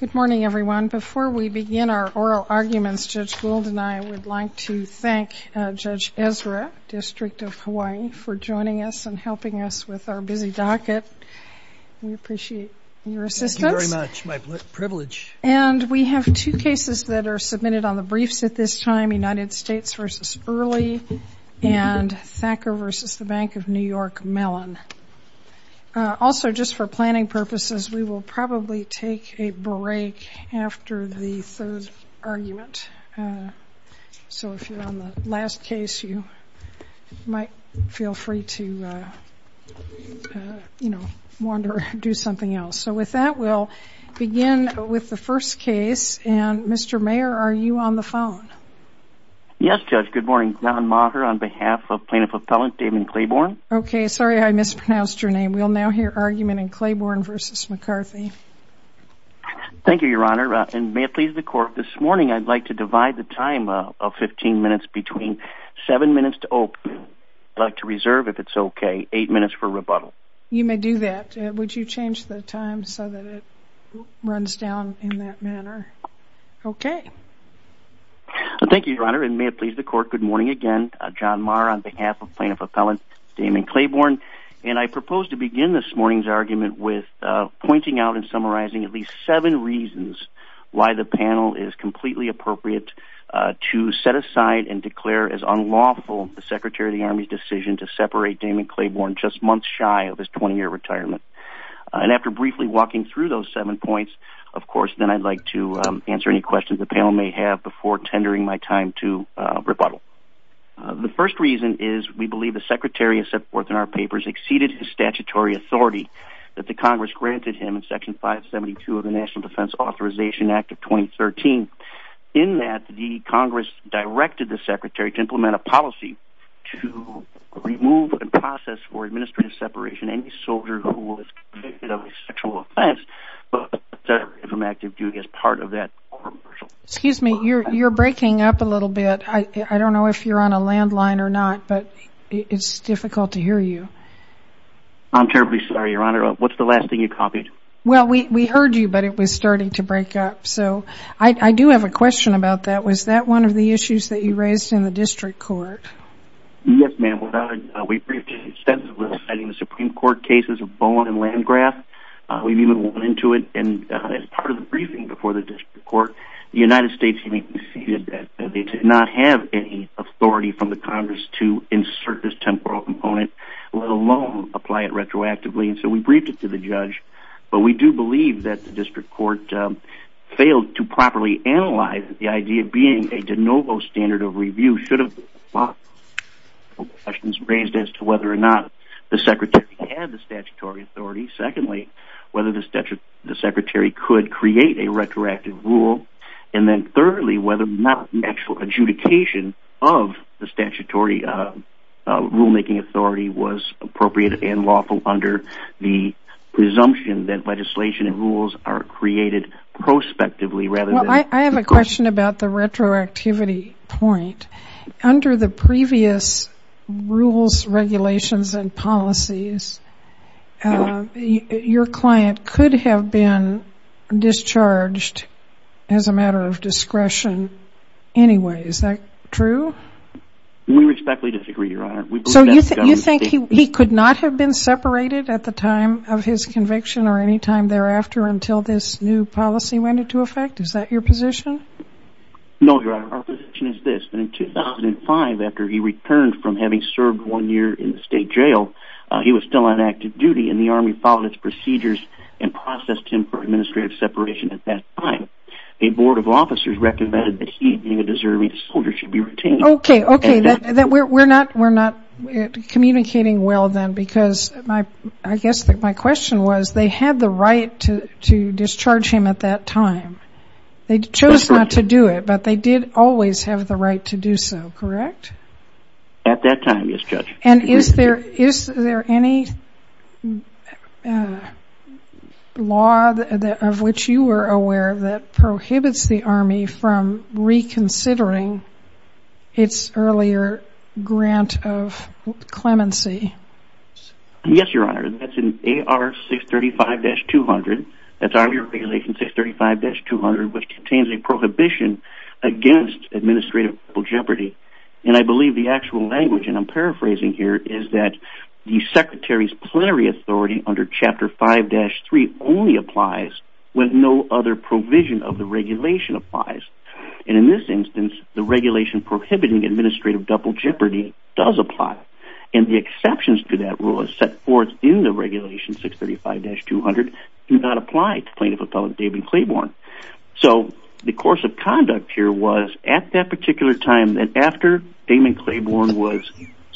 Good morning everyone. Before we begin our oral arguments, Judge Gould and I would like to thank Judge Ezra, District of Hawaii, for joining us and helping us with our busy docket. We appreciate your assistance. And we have two cases that are submitted on the briefs at this time, United States v. Early and Thacker v. Bank of New York Mellon. Also just for planning purposes, we will probably take a break after the third argument. So if you're on the last case, you might feel free to, you know, wander or do something else. So with that, we'll begin with the first case. And Mr. Mayer, are you on the phone? Yes, Judge. Good morning. John Maher on behalf of Plaintiff Appellant David Claiborne. Okay, sorry I mispronounced your name. We'll now hear argument in Claiborne v. McCarthy. Thank you, Your Honor. And may it please the Court, this morning I'd like to divide the time of 15 minutes between seven minutes to open. I'd like to reserve, if it's okay, eight minutes for rebuttal. You may do that. Would you change the time so that it runs down in that manner? Okay. Thank you, Your Honor. And may it please the Court, good morning again. John Maher on behalf of Plaintiff Appellant Damon Claiborne. And I propose to begin this morning's argument with pointing out and summarizing at least seven reasons why the panel is completely appropriate to set aside and declare as unlawful the Secretary of the Army's decision to separate Damon Claiborne just months shy of his 20-year retirement. And after briefly walking through those seven points, of course, then I'd like to answer any questions the panel may have before tendering my time to rebuttal. The first reason is we believe the Secretary has set forth in our papers exceeded his statutory authority that the Congress granted him in Section 572 of the National Defense Authorization Act of 2013. In that, the Congress directed the Secretary to implement a policy to remove and process for administrative separation any soldier who was convicted of a sexual offense from active duty as part of that. Excuse me, you're breaking up a little bit. I I'm terribly sorry, Your Honor. What's the last thing you copied? Well, we heard you, but it was starting to break up. So I do have a question about that. Was that one of the issues that you raised in the district court? Yes, ma'am. We've briefed extensively on the Supreme Court cases of Bowen and Landgraf. We've even went into it as part of the briefing before the district court. The United States had conceded that they did not have any authority from the apply it retroactively. And so we briefed it to the judge. But we do believe that the district court failed to properly analyze the idea of being a de novo standard of review should have brought questions raised as to whether or not the Secretary had the statutory authority. Secondly, whether the Secretary could create a retroactive rule. And then thirdly, whether or not actual adjudication of the statutory rulemaking authority was appropriate and lawful under the presumption that legislation and rules are created prospectively rather than... I have a question about the retroactivity point. Under the previous rules, regulations, and policies, your client could have been discharged as a matter of discretion anyway. Is that true? We respectfully disagree, Your Honor. So you think he could not have been separated at the time of his conviction or any time thereafter until this new policy went into effect? Is that your position? No, Your Honor. Our position is this. In 2005, after he returned from having still on active duty and the Army followed its procedures and processed him for administrative separation at that time, a board of officers recommended that he, being a deserving soldier, should be retained. Okay. Okay. We're not communicating well then because I guess my question was they had the right to discharge him at that time. They chose not to do it, but they always have the right to do so, correct? At that time, yes, Judge. And is there any law of which you were aware that prohibits the Army from reconsidering its earlier grant of clemency? Yes, Your Honor. That's in AR 635-200. That's Army Regulation 635-200, which contains a prohibition against administrative double jeopardy. And I believe the actual language, and I'm paraphrasing here, is that the Secretary's plenary authority under Chapter 5-3 only applies when no other provision of the regulation applies. And in this instance, the regulation prohibiting administrative double jeopardy does apply. And the exceptions to that rule is set forth in the regulation 635-200 do not apply to Plaintiff Appellant David Claiborne. So the course of conduct here was at that particular time that after David Claiborne was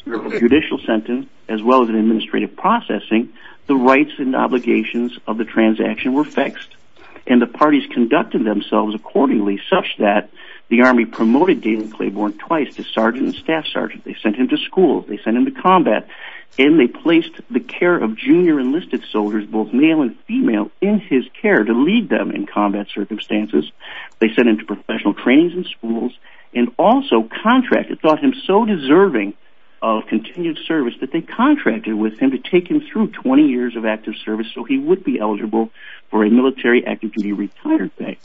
a judicial sentence, as well as an administrative processing, the rights and obligations of the transaction were fixed. And the parties conducted themselves accordingly such that the Army promoted David Claiborne twice to sergeant and staff sergeant. They sent him to school. They sent him to combat. And they placed the care of junior enlisted soldiers, both male and female, in his care to lead them in combat circumstances. They sent him to professional trainings in schools and also contracted, thought him so deserving of continued service, that they contracted with him to take him through 20 years of active service so he would be eligible for a military active duty retired day.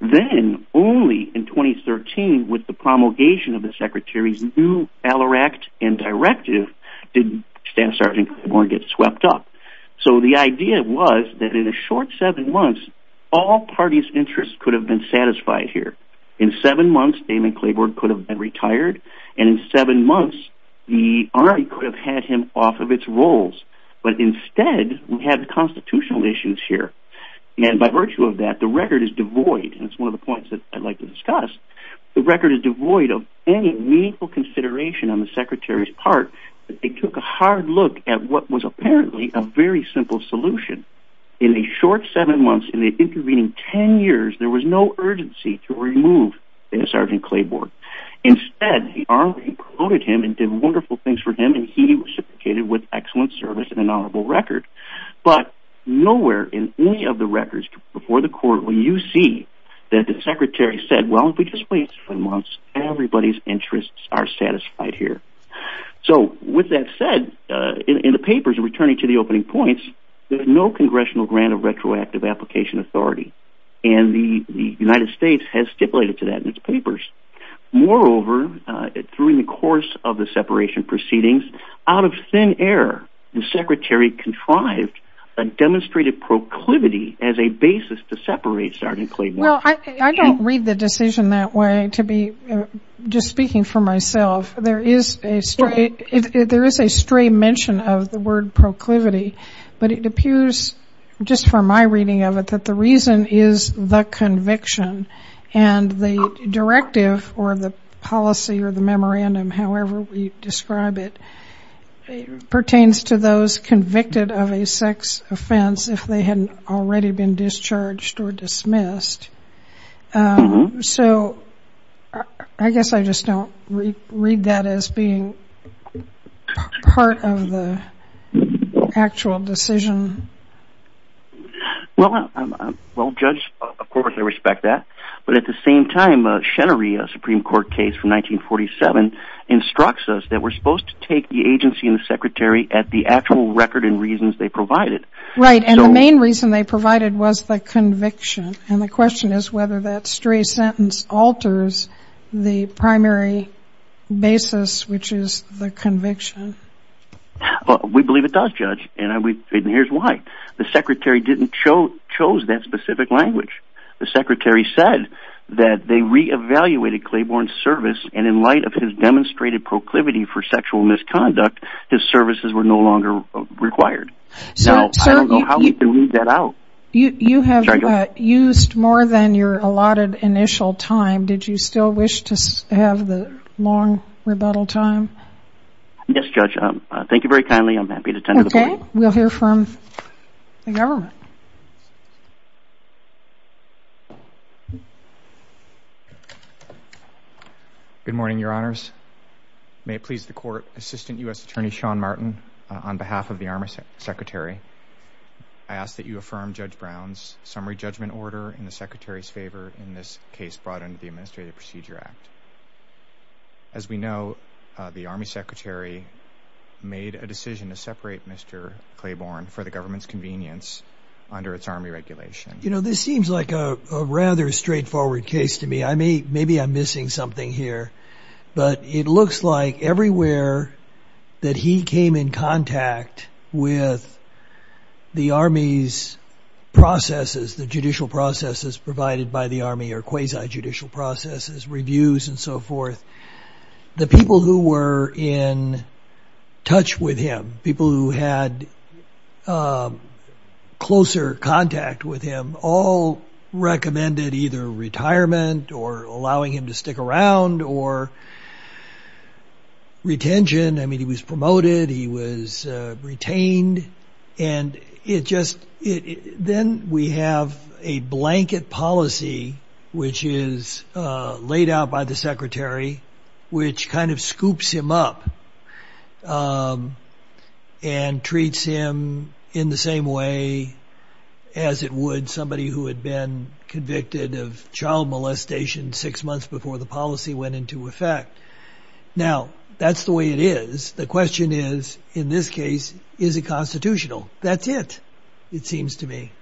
Then only in 2013, with the promulgation of the Secretary's Alleract and Directive, did Staff Sergeant Claiborne get swept up. So the idea was that in a short seven months, all parties' interests could have been satisfied here. In seven months, David Claiborne could have been retired. And in seven months, the Army could have had him off of its roles. But instead, we have constitutional issues here. And by virtue of that, the record is devoid. And it's on the Secretary's part that they took a hard look at what was apparently a very simple solution. In the short seven months, in the intervening 10 years, there was no urgency to remove Sergeant Claiborne. Instead, the Army promoted him and did wonderful things for him, and he was reciprocated with excellent service and an honorable record. But nowhere in any of the records before the court will you see that the Secretary said, well, if we just wait seven months, everybody's interests are satisfied here. So with that said, in the papers, returning to the opening points, there's no congressional grant of retroactive application authority. And the United States has stipulated to that in its papers. Moreover, during the course of the separation proceedings, out of thin air, the Secretary contrived a demonstrated proclivity as a basis to separate Sergeant Claiborne. Well, I don't read the decision that way. To be just speaking for myself, there is a stray mention of the word proclivity. But it appears, just from my reading of it, that the reason is the conviction. And the directive or the policy or the memorandum, however we describe it, pertains to those convicted of a discharged or dismissed. So I guess I just don't read that as being part of the actual decision. Well, Judge, of course, I respect that. But at the same time, Chenery, a Supreme Court case from 1947, instructs us that we're supposed to take the agency and the Secretary at the actual record and reasons they provided. Right. And the main reason they provided was the conviction. And the question is whether that stray sentence alters the primary basis, which is the conviction. We believe it does, Judge. And here's why. The Secretary didn't chose that specific language. The Secretary said that they re-evaluated Claiborne's service. And in light of his demonstrated proclivity for sexual misconduct, his services were no longer required. No, I don't know how we can weed that out. You have used more than your allotted initial time. Did you still wish to have the long rebuttal time? Yes, Judge. Thank you very kindly. I'm happy to tend to the point. We'll hear from the government. Good morning, Your Honors. May it please the Court, Assistant U.S. Attorney Sean Martin, on behalf of the Army Secretary, I ask that you affirm Judge Brown's summary judgment order in the Secretary's favor in this case brought under the Administrative Procedure Act. As we know, the Army Secretary made a decision to separate Mr. Claiborne for the government's convenience under its Army regulation. You know, this seems like a rather straightforward case to me. Maybe I'm missing something here. But it with the Army's processes, the judicial processes provided by the Army, or quasi-judicial processes, reviews and so forth, the people who were in touch with him, people who had closer contact with him, all recommended either retirement or allowing him to stick around or retention. I mean, he was promoted, he was retained. And it just, then we have a blanket policy, which is laid out by the Secretary, which kind of scoops him up and treats him in the same way as it would somebody who had been convicted of child molestation six months before the policy went into effect. Now, that's the way it is. The question is, in this case, is it constitutional? That's it, it seems to me.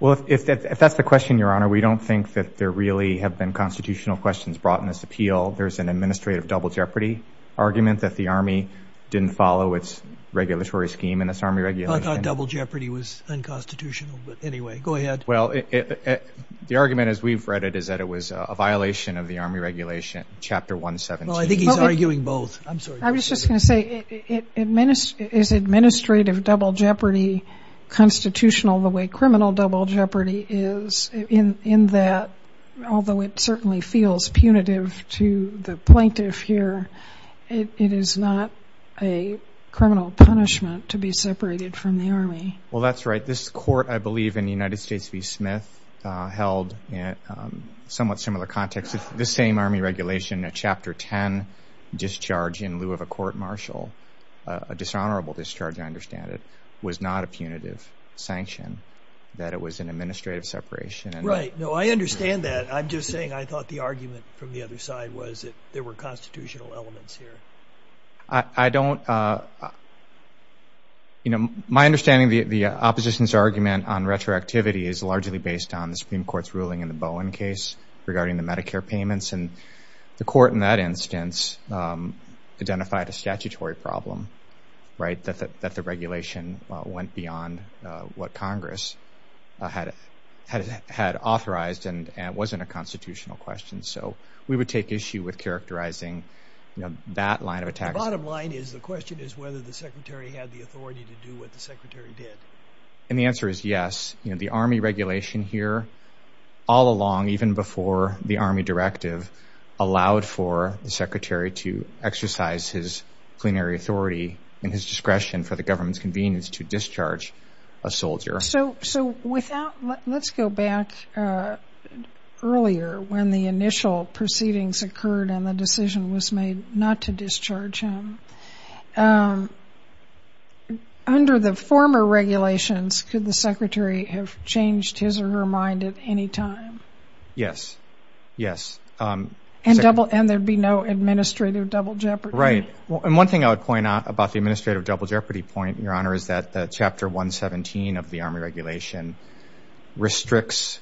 Well, if that's the question, Your Honor, we don't think that there really have been constitutional questions brought in this appeal. There's an administrative double jeopardy argument that the Army didn't follow its regulatory scheme in this Army regulation. I thought double jeopardy was unconstitutional. But anyway, go ahead. Well, the argument as we've read it is that it was a violation of the Army regulation, Chapter 117. I think he's arguing both. I'm sorry. I was just going to say, is administrative double jeopardy constitutional the way criminal double jeopardy is, in that, although it certainly feels punitive to the plaintiff here, it is not a criminal punishment to be separated from the Army. Well, that's right. This court, I believe, in the United States v. Smith, held somewhat similar context. The same Army regulation, Chapter 10, discharge in lieu of a court-martial, a dishonorable discharge, I understand it, was not a punitive sanction, that it was an administrative separation. Right. No, I understand that. I'm just saying I thought the argument from the other side was that there were constitutional elements here. I don't... You know, my understanding of the opposition's argument on retroactivity is largely based on the Supreme Court's ruling in the Bowen case regarding the Medicare payments. And the court in that instance identified a statutory problem, right, that the regulation went beyond what Congress had authorized and wasn't a constitutional question. So we would take issue with characterizing that line of attack. The bottom line is the question is whether the Secretary had the authority to do what the Secretary did. And the answer is yes. You know, the Army regulation here all along, even before the Army directive, allowed for the Secretary to exercise his plenary authority and his discretion for the government's convenience to discharge a soldier. So without... Let's go back earlier when the initial proceedings occurred and the decision was made not to regulations, could the Secretary have changed his or her mind at any time? Yes. Yes. And there'd be no administrative double jeopardy? Right. And one thing I would point out about the administrative double jeopardy point, Your Honor, is that Chapter 117 of the Army regulation restricts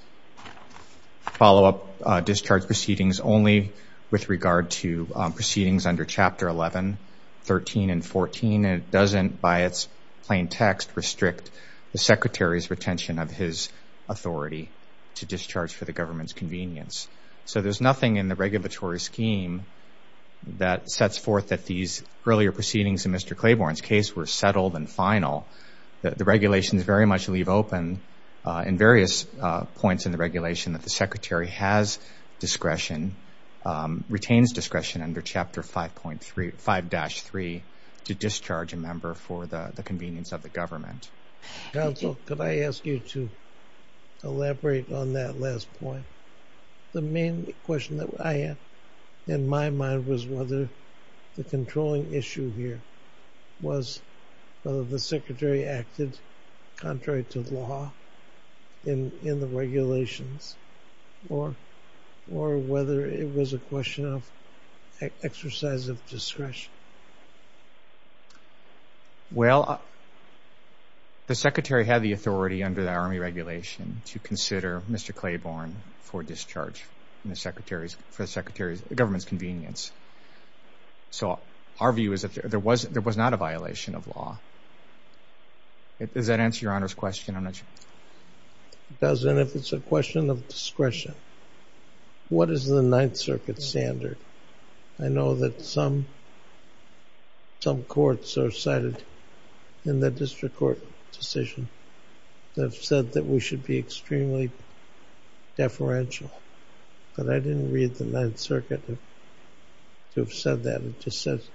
follow-up discharge proceedings only with regard to the Secretary's retention of his authority to discharge for the government's convenience. So there's nothing in the regulatory scheme that sets forth that these earlier proceedings in Mr. Claiborne's case were settled and final. The regulations very much leave open in various points in the regulation that the Secretary has discretion, retains discretion under Chapter 5-3 to discharge a member for the convenience of the government. Counsel, could I ask you to elaborate on that last point? The main question that I had in my mind was whether the controlling issue here was whether the Secretary acted contrary to law in the regulations or whether it was a question of exercise of discretion? Well, the Secretary had the authority under the Army regulation to consider Mr. Claiborne for discharge for the government's convenience. So our view is that there was not a violation of law. Does that answer Your Honor's question? It does. And if it's a question of discretion, what is the Ninth Circuit standard? I know that some courts are cited in the District Court decision that said that we should be extremely deferential. But I didn't read the Ninth Circuit to have said that. It just says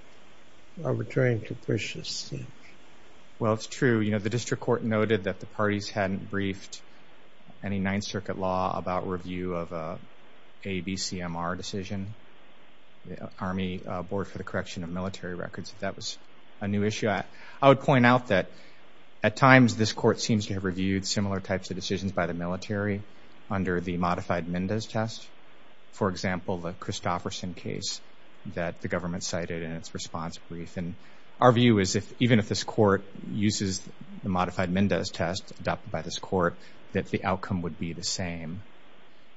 arbitrary and capricious. Well, it's true. You know, the District Court noted that the parties hadn't briefed any Ninth Circuit law about review of an ABCMR decision, the Army Board for the Correction of Military Records, if that was a new issue. I would point out that at times this court seems to have reviewed similar types of decisions by the military under the modified Mendes test. For example, the Christofferson case that the government cited in its response brief. And our view is if even if this court uses the modified Mendes test adopted by this court, that the outcome would be the same.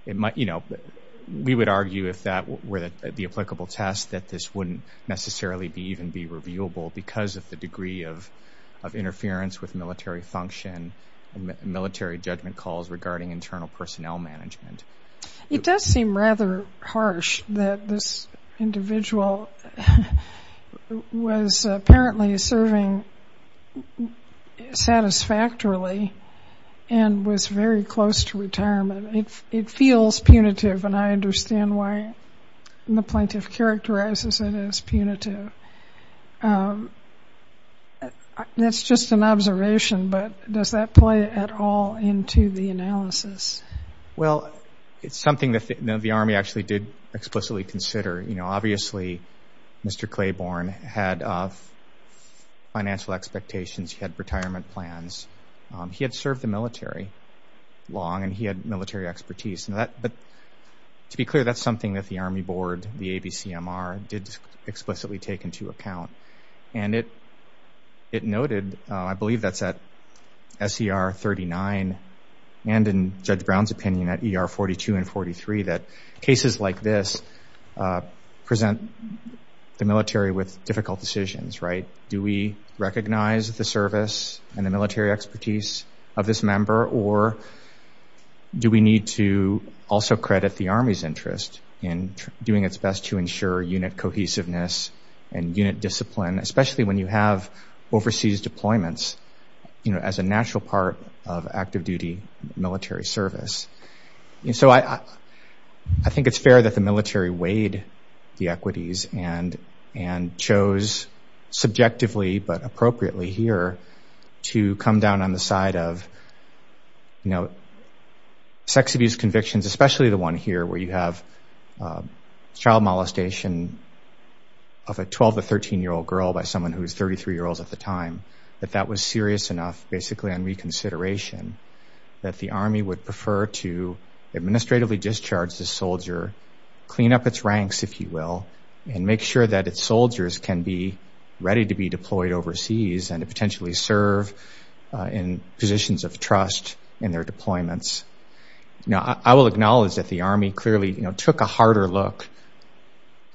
We would argue if that were the applicable test that this wouldn't necessarily even be reviewable because of the degree of interference with military function and military judgment calls regarding internal personnel management. It does seem rather harsh that this individual was apparently serving satisfactorily and was very close to retirement. It feels punitive and I understand why the plaintiff characterizes it as punitive. That's just an observation, but does that play at all into the analysis? Well, it's something that the Army actually did explicitly consider. You know, obviously, Mr. Claiborne had financial expectations. He had retirement plans. He had served the military long and he had military expertise. But to be clear, that's something that the Army Board, the ABCMR, did explicitly take into account. And it noted, I believe that's at SER 39 and in Judge Brown's opinion at ER 42 and 43, that cases like this present the military with difficult decisions, right? Do we recognize the service and the military expertise of this member or do we need to also credit the Army's interest in doing its best to ensure unit cohesiveness and unit discipline, especially when you have overseas deployments, you know, as a natural part of active duty military service. And so I think it's fair that the military weighed the equities and chose subjectively but appropriately here to come down on the side of, you know, sex abuse convictions, especially the one here where you have child molestation of a 12 to 13-year-old girl by someone who was 33-year-olds at the time, that that was serious enough basically on reconsideration that the Army would prefer to administratively discharge the soldier, clean up its ranks, if you will, and make sure that its soldiers can be ready to be deployed overseas and to potentially serve in positions of trust in their deployments. Now, I will acknowledge that the Army clearly, you know, took a harder look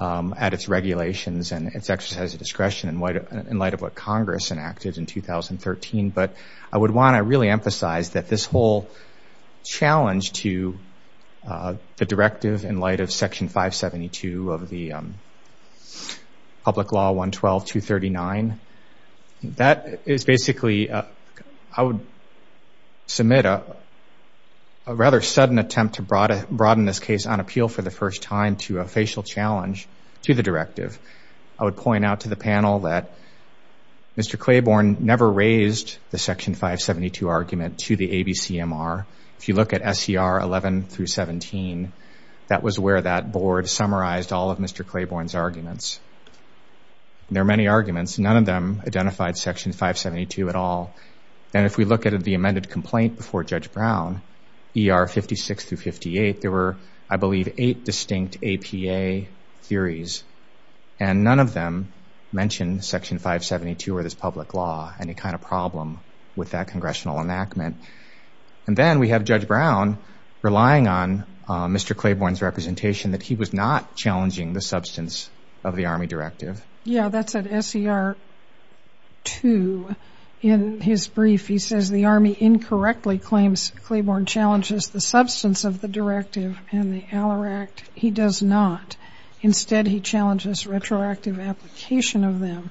at its regulations and its exercise of discretion in light of what Congress enacted in 2013, but I would want to really emphasize that this whole challenge to the directive in light of Section 572 of the Public Law 112-239, that is basically, I would submit a rather sudden attempt to broaden this case on appeal for the first time to a facial challenge to the directive. I would point out to the panel that Mr. Claiborne never raised the Section 572 argument to the ABCMR. If you look at SCR 11-17, that was where that board summarized all of Mr. Claiborne's arguments. There are many arguments. None of them identified Section 572 at all. And if we look at the amended complaint before Judge Brown, ER 56-58, there were, I believe, eight distinct APA theories, and none of them mentioned Section 572 or this public law, any kind of problem with that congressional enactment. And then we have Judge Brown relying on Mr. Claiborne's representation that he was not challenging the substance of the Army directive. Yeah, that's at SCR 2. In his brief, he says the Army incorrectly claims Claiborne challenges the substance of the directive and the Aller Act. He does not. Instead, he challenges retroactive application of them.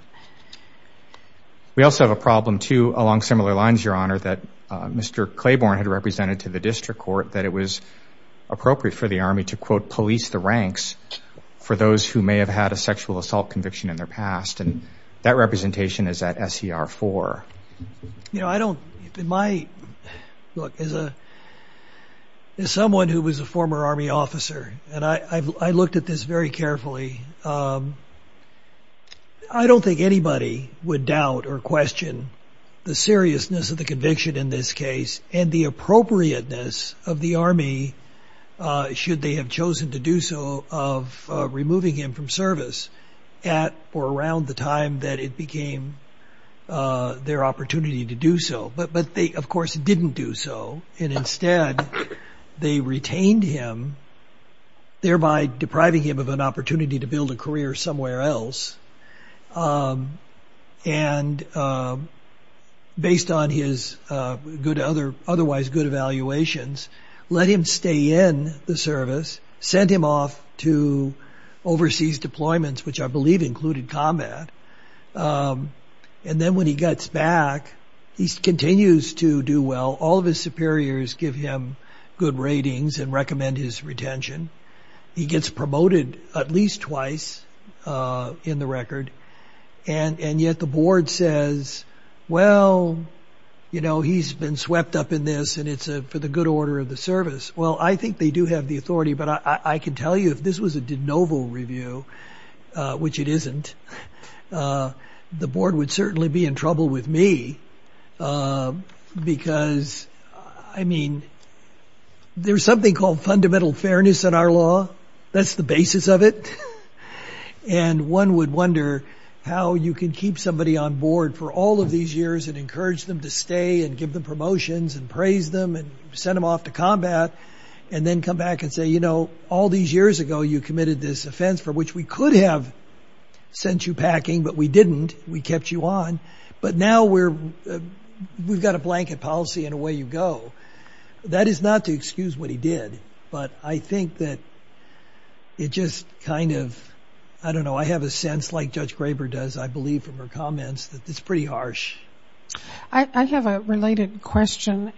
We also have a problem, too, along similar lines, Your Honor, that Mr. Claiborne had represented to the district court that it was appropriate for the Army to, quote, police the ranks for those who may have had a sexual assault conviction in their past. And that representation is at SCR 4. You know, I don't, in my, look, as a, as someone who was a former Army officer, and I looked at this very carefully, I don't think anybody would doubt or question the seriousness of the conviction in this case and the appropriateness of the Army, should they have chosen to do so, of removing him from service at or around the time that it became their opportunity to do so. But they, of course, didn't do so. And instead, they retained him, thereby depriving him of an opportunity to build a career somewhere else. And based on his good other, otherwise good evaluations, let him stay in the service, sent him off to overseas deployments, which I believe included combat. And then when he gets back, he continues to do well. All of his superiors give him good ratings and recommend his retention. He gets promoted at least twice in the record. And yet the board says, well, you know, he's been swept up in this, and it's for the good they do have the authority. But I can tell you, if this was a de novo review, which it isn't, the board would certainly be in trouble with me. Because, I mean, there's something called fundamental fairness in our law. That's the basis of it. And one would wonder how you can keep somebody on board for all of these years and encourage them to stay and give them promotions and praise them and send them off to combat, and then come back and say, you know, all these years ago, you committed this offense for which we could have sent you packing, but we didn't. We kept you on. But now we're, we've got a blanket policy and away you go. That is not to excuse what he did. But I think that it just kind of, I don't know, I have a sense like Judge Graber does, I believe from her comments, that it's pretty harsh. I have a related question.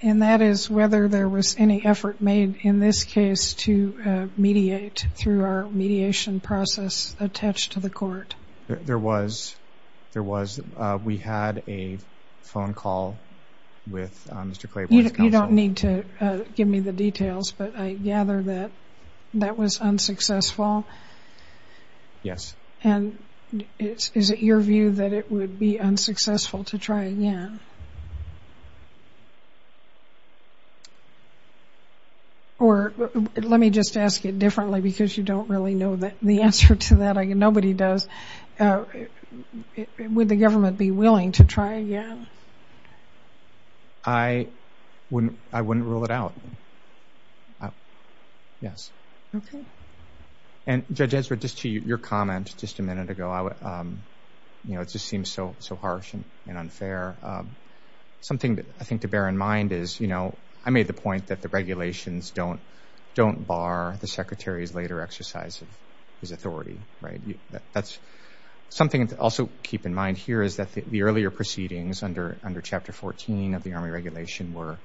And that is whether there was any effort made in this case to mediate through our mediation process attached to the court. There was. There was. We had a phone call with Mr. Claiborne. You don't need to give me the details, but I gather that that was unsuccessful. Yes. And is it your view that it would be unsuccessful to try again? Or let me just ask it differently because you don't really know the answer to that. Nobody does. Would the government be willing to try again? I wouldn't, I wouldn't rule it out. Yes. Okay. And Judge Ezra, just to your comment just a minute ago, I would, you know, it just seems so, so harsh and unfair. Something that I think to bear in mind is, you know, I made the point that the regulations don't, don't bar the Secretary's later exercise of his authority, right? That's something to also keep in mind here is that the under chapter 14 of the Army regulation were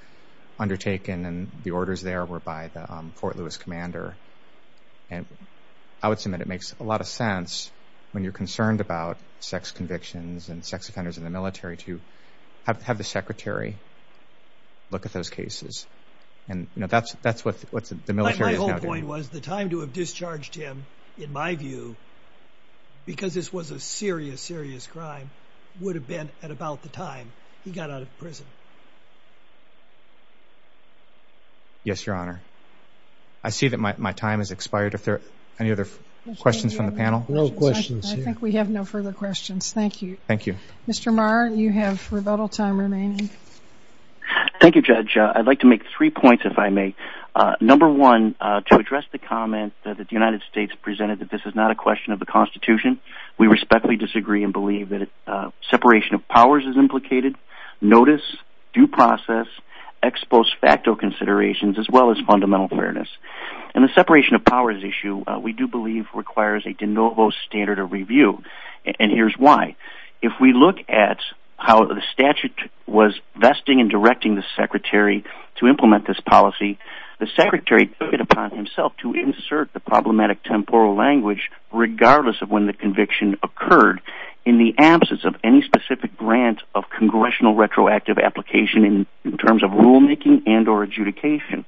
undertaken and the orders there were by the Fort Lewis commander. And I would submit, it makes a lot of sense when you're concerned about sex convictions and sex offenders in the military to have the Secretary look at those cases. And, you know, that's, that's what the military is now doing. My whole point was the time to have discharged him, in my view, because this was a serious, serious crime would have been at about the time he got out of prison. Yes, Your Honor. I see that my time has expired. If there are any other questions from the panel. No questions. I think we have no further questions. Thank you. Thank you. Mr. Marr, you have rebuttal time remaining. Thank you, Judge. I'd like to make three points if I may. Number one, to address the comment that the United States presented, that this is not a question of the constitution. We respectfully disagree and believe that separation of powers is implicated. Notice, due process, ex post facto considerations, as well as fundamental fairness. And the separation of powers issue we do believe requires a de novo standard of review. And here's why. If we look at how the statute was vesting and directing the Secretary to implement this policy, the Secretary put it upon himself to insert the problematic temporal language, regardless of when the conviction occurred in the absence of any specific grant of congressional retroactive application in terms of rulemaking and or adjudication.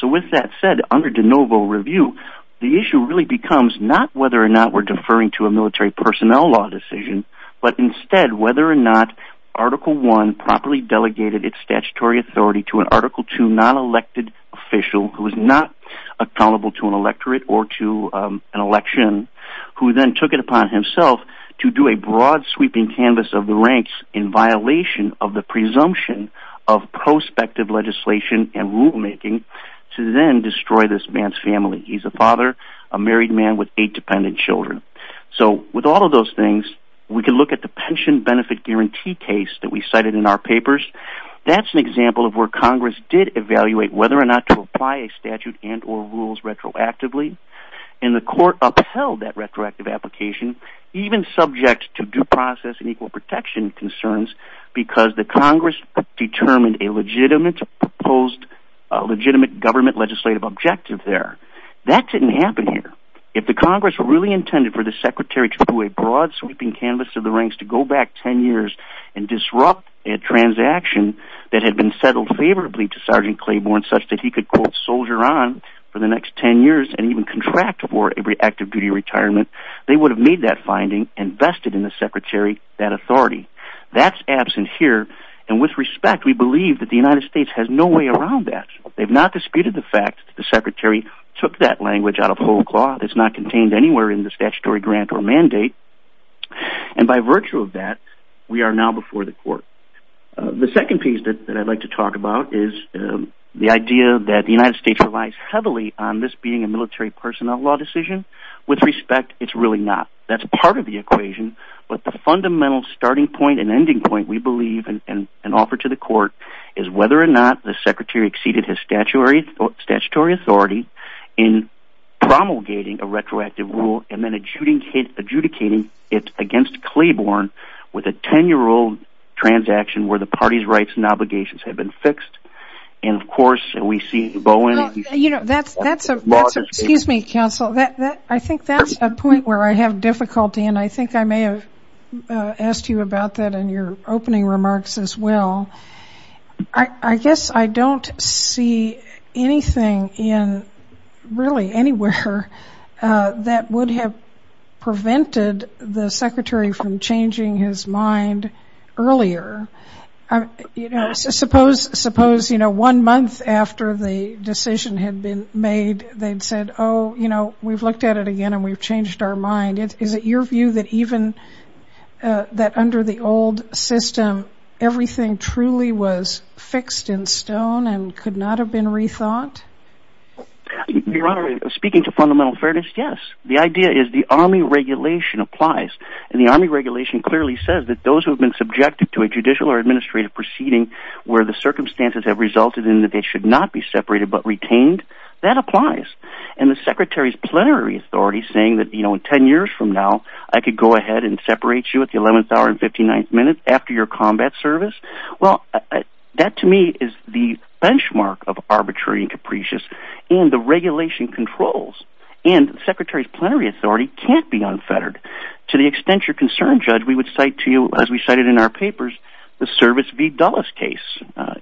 So with that said, under de novo review, the issue really becomes not whether or not we're deferring to a military personnel law decision, but instead whether or not article one properly delegated its statutory authority to an article to non elected official who is not accountable to an electorate or to an election, who then took it on himself to do a broad sweeping canvas of the ranks in violation of the presumption of prospective legislation and rulemaking to then destroy this man's family. He's a father, a married man with eight dependent children. So with all of those things, we can look at the pension benefit guarantee case that we cited in our papers. That's an example of where Congress did evaluate whether or not to apply a statute and or rules retroactively. And the court upheld that retroactive application, even subject to due process and equal protection concerns, because the Congress determined a legitimate proposed legitimate government legislative objective there. That didn't happen here. If the Congress really intended for the secretary to do a broad sweeping canvas of the ranks to go back 10 years and disrupt a transaction that had been settled favorably to Sergeant Claiborne such that he could quote soldier on for the next 10 years and even contract for every active duty retirement, they would have made that finding invested in the secretary that authority that's absent here. And with respect, we believe that the United States has no way around that. They've not disputed the fact that the secretary took that language out of whole cloth. It's not contained anywhere in the statutory grant or mandate. And by virtue of that, we are now before the court. The second piece that I'd like to talk is the idea that the United States relies heavily on this being a military personnel law decision. With respect, it's really not. That's part of the equation. But the fundamental starting point and ending point we believe in an offer to the court is whether or not the secretary exceeded his statutory or statutory authority in promulgating a retroactive rule and then adjudicating adjudicating it against Claiborne with a 10 year old transaction where the party's rights and obligations have been fixed. And of course, we see Bowen, you know, that's, that's, excuse me, counsel that I think that's a point where I have difficulty. And I think I may have asked you about that in your opening remarks as well. I guess I don't see anything in really anywhere that would have prevented the secretary from changing his mind earlier. You know, suppose, suppose, you know, one month after the decision had been made, they'd said, Oh, you know, we've looked at it again. And we've changed our mind. Is it your view that even that under the old system, everything truly was fixed in stone and could not have been rethought? Your Honor, speaking to fundamental fairness? Yes. The idea is the regulation applies. And the army regulation clearly says that those who have been subjected to a judicial or administrative proceeding, where the circumstances have resulted in that they should not be separated, but retained, that applies. And the Secretary's plenary authority saying that, you know, 10 years from now, I could go ahead and separate you at the 11th hour and 59th minute after your combat service. Well, that to me is the benchmark of arbitrary and capricious in the regulation controls. And the Secretary's plenary authority can't be unfettered. To the extent you're concerned, Judge, we would cite to you, as we cited in our papers, the service v. Dulles case,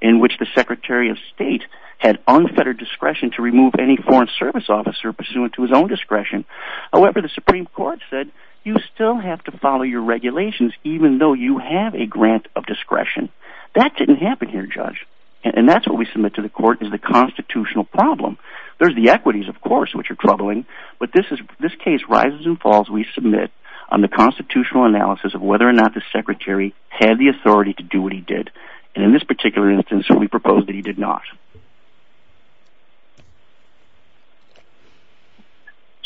in which the Secretary of State had unfettered discretion to remove any foreign service officer pursuant to his own discretion. However, the Supreme Court said, you still have to follow your regulations, even though you have a grant of discretion. That didn't happen here, Judge. And that's what we submit to the court is the constitutional problem. There's the equities, of course, which are troubling. But this case rises and falls, we submit, on the constitutional analysis of whether or not the Secretary had the authority to do what he did. And in this particular instance, we propose that he did not.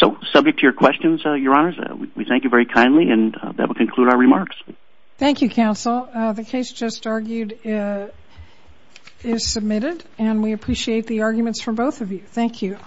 So subject to your questions, Your Honors, we thank you very kindly, and that will conclude our remarks. Thank you, counsel. The case just argued is submitted, and we appreciate the arguments from both of you. Thank you.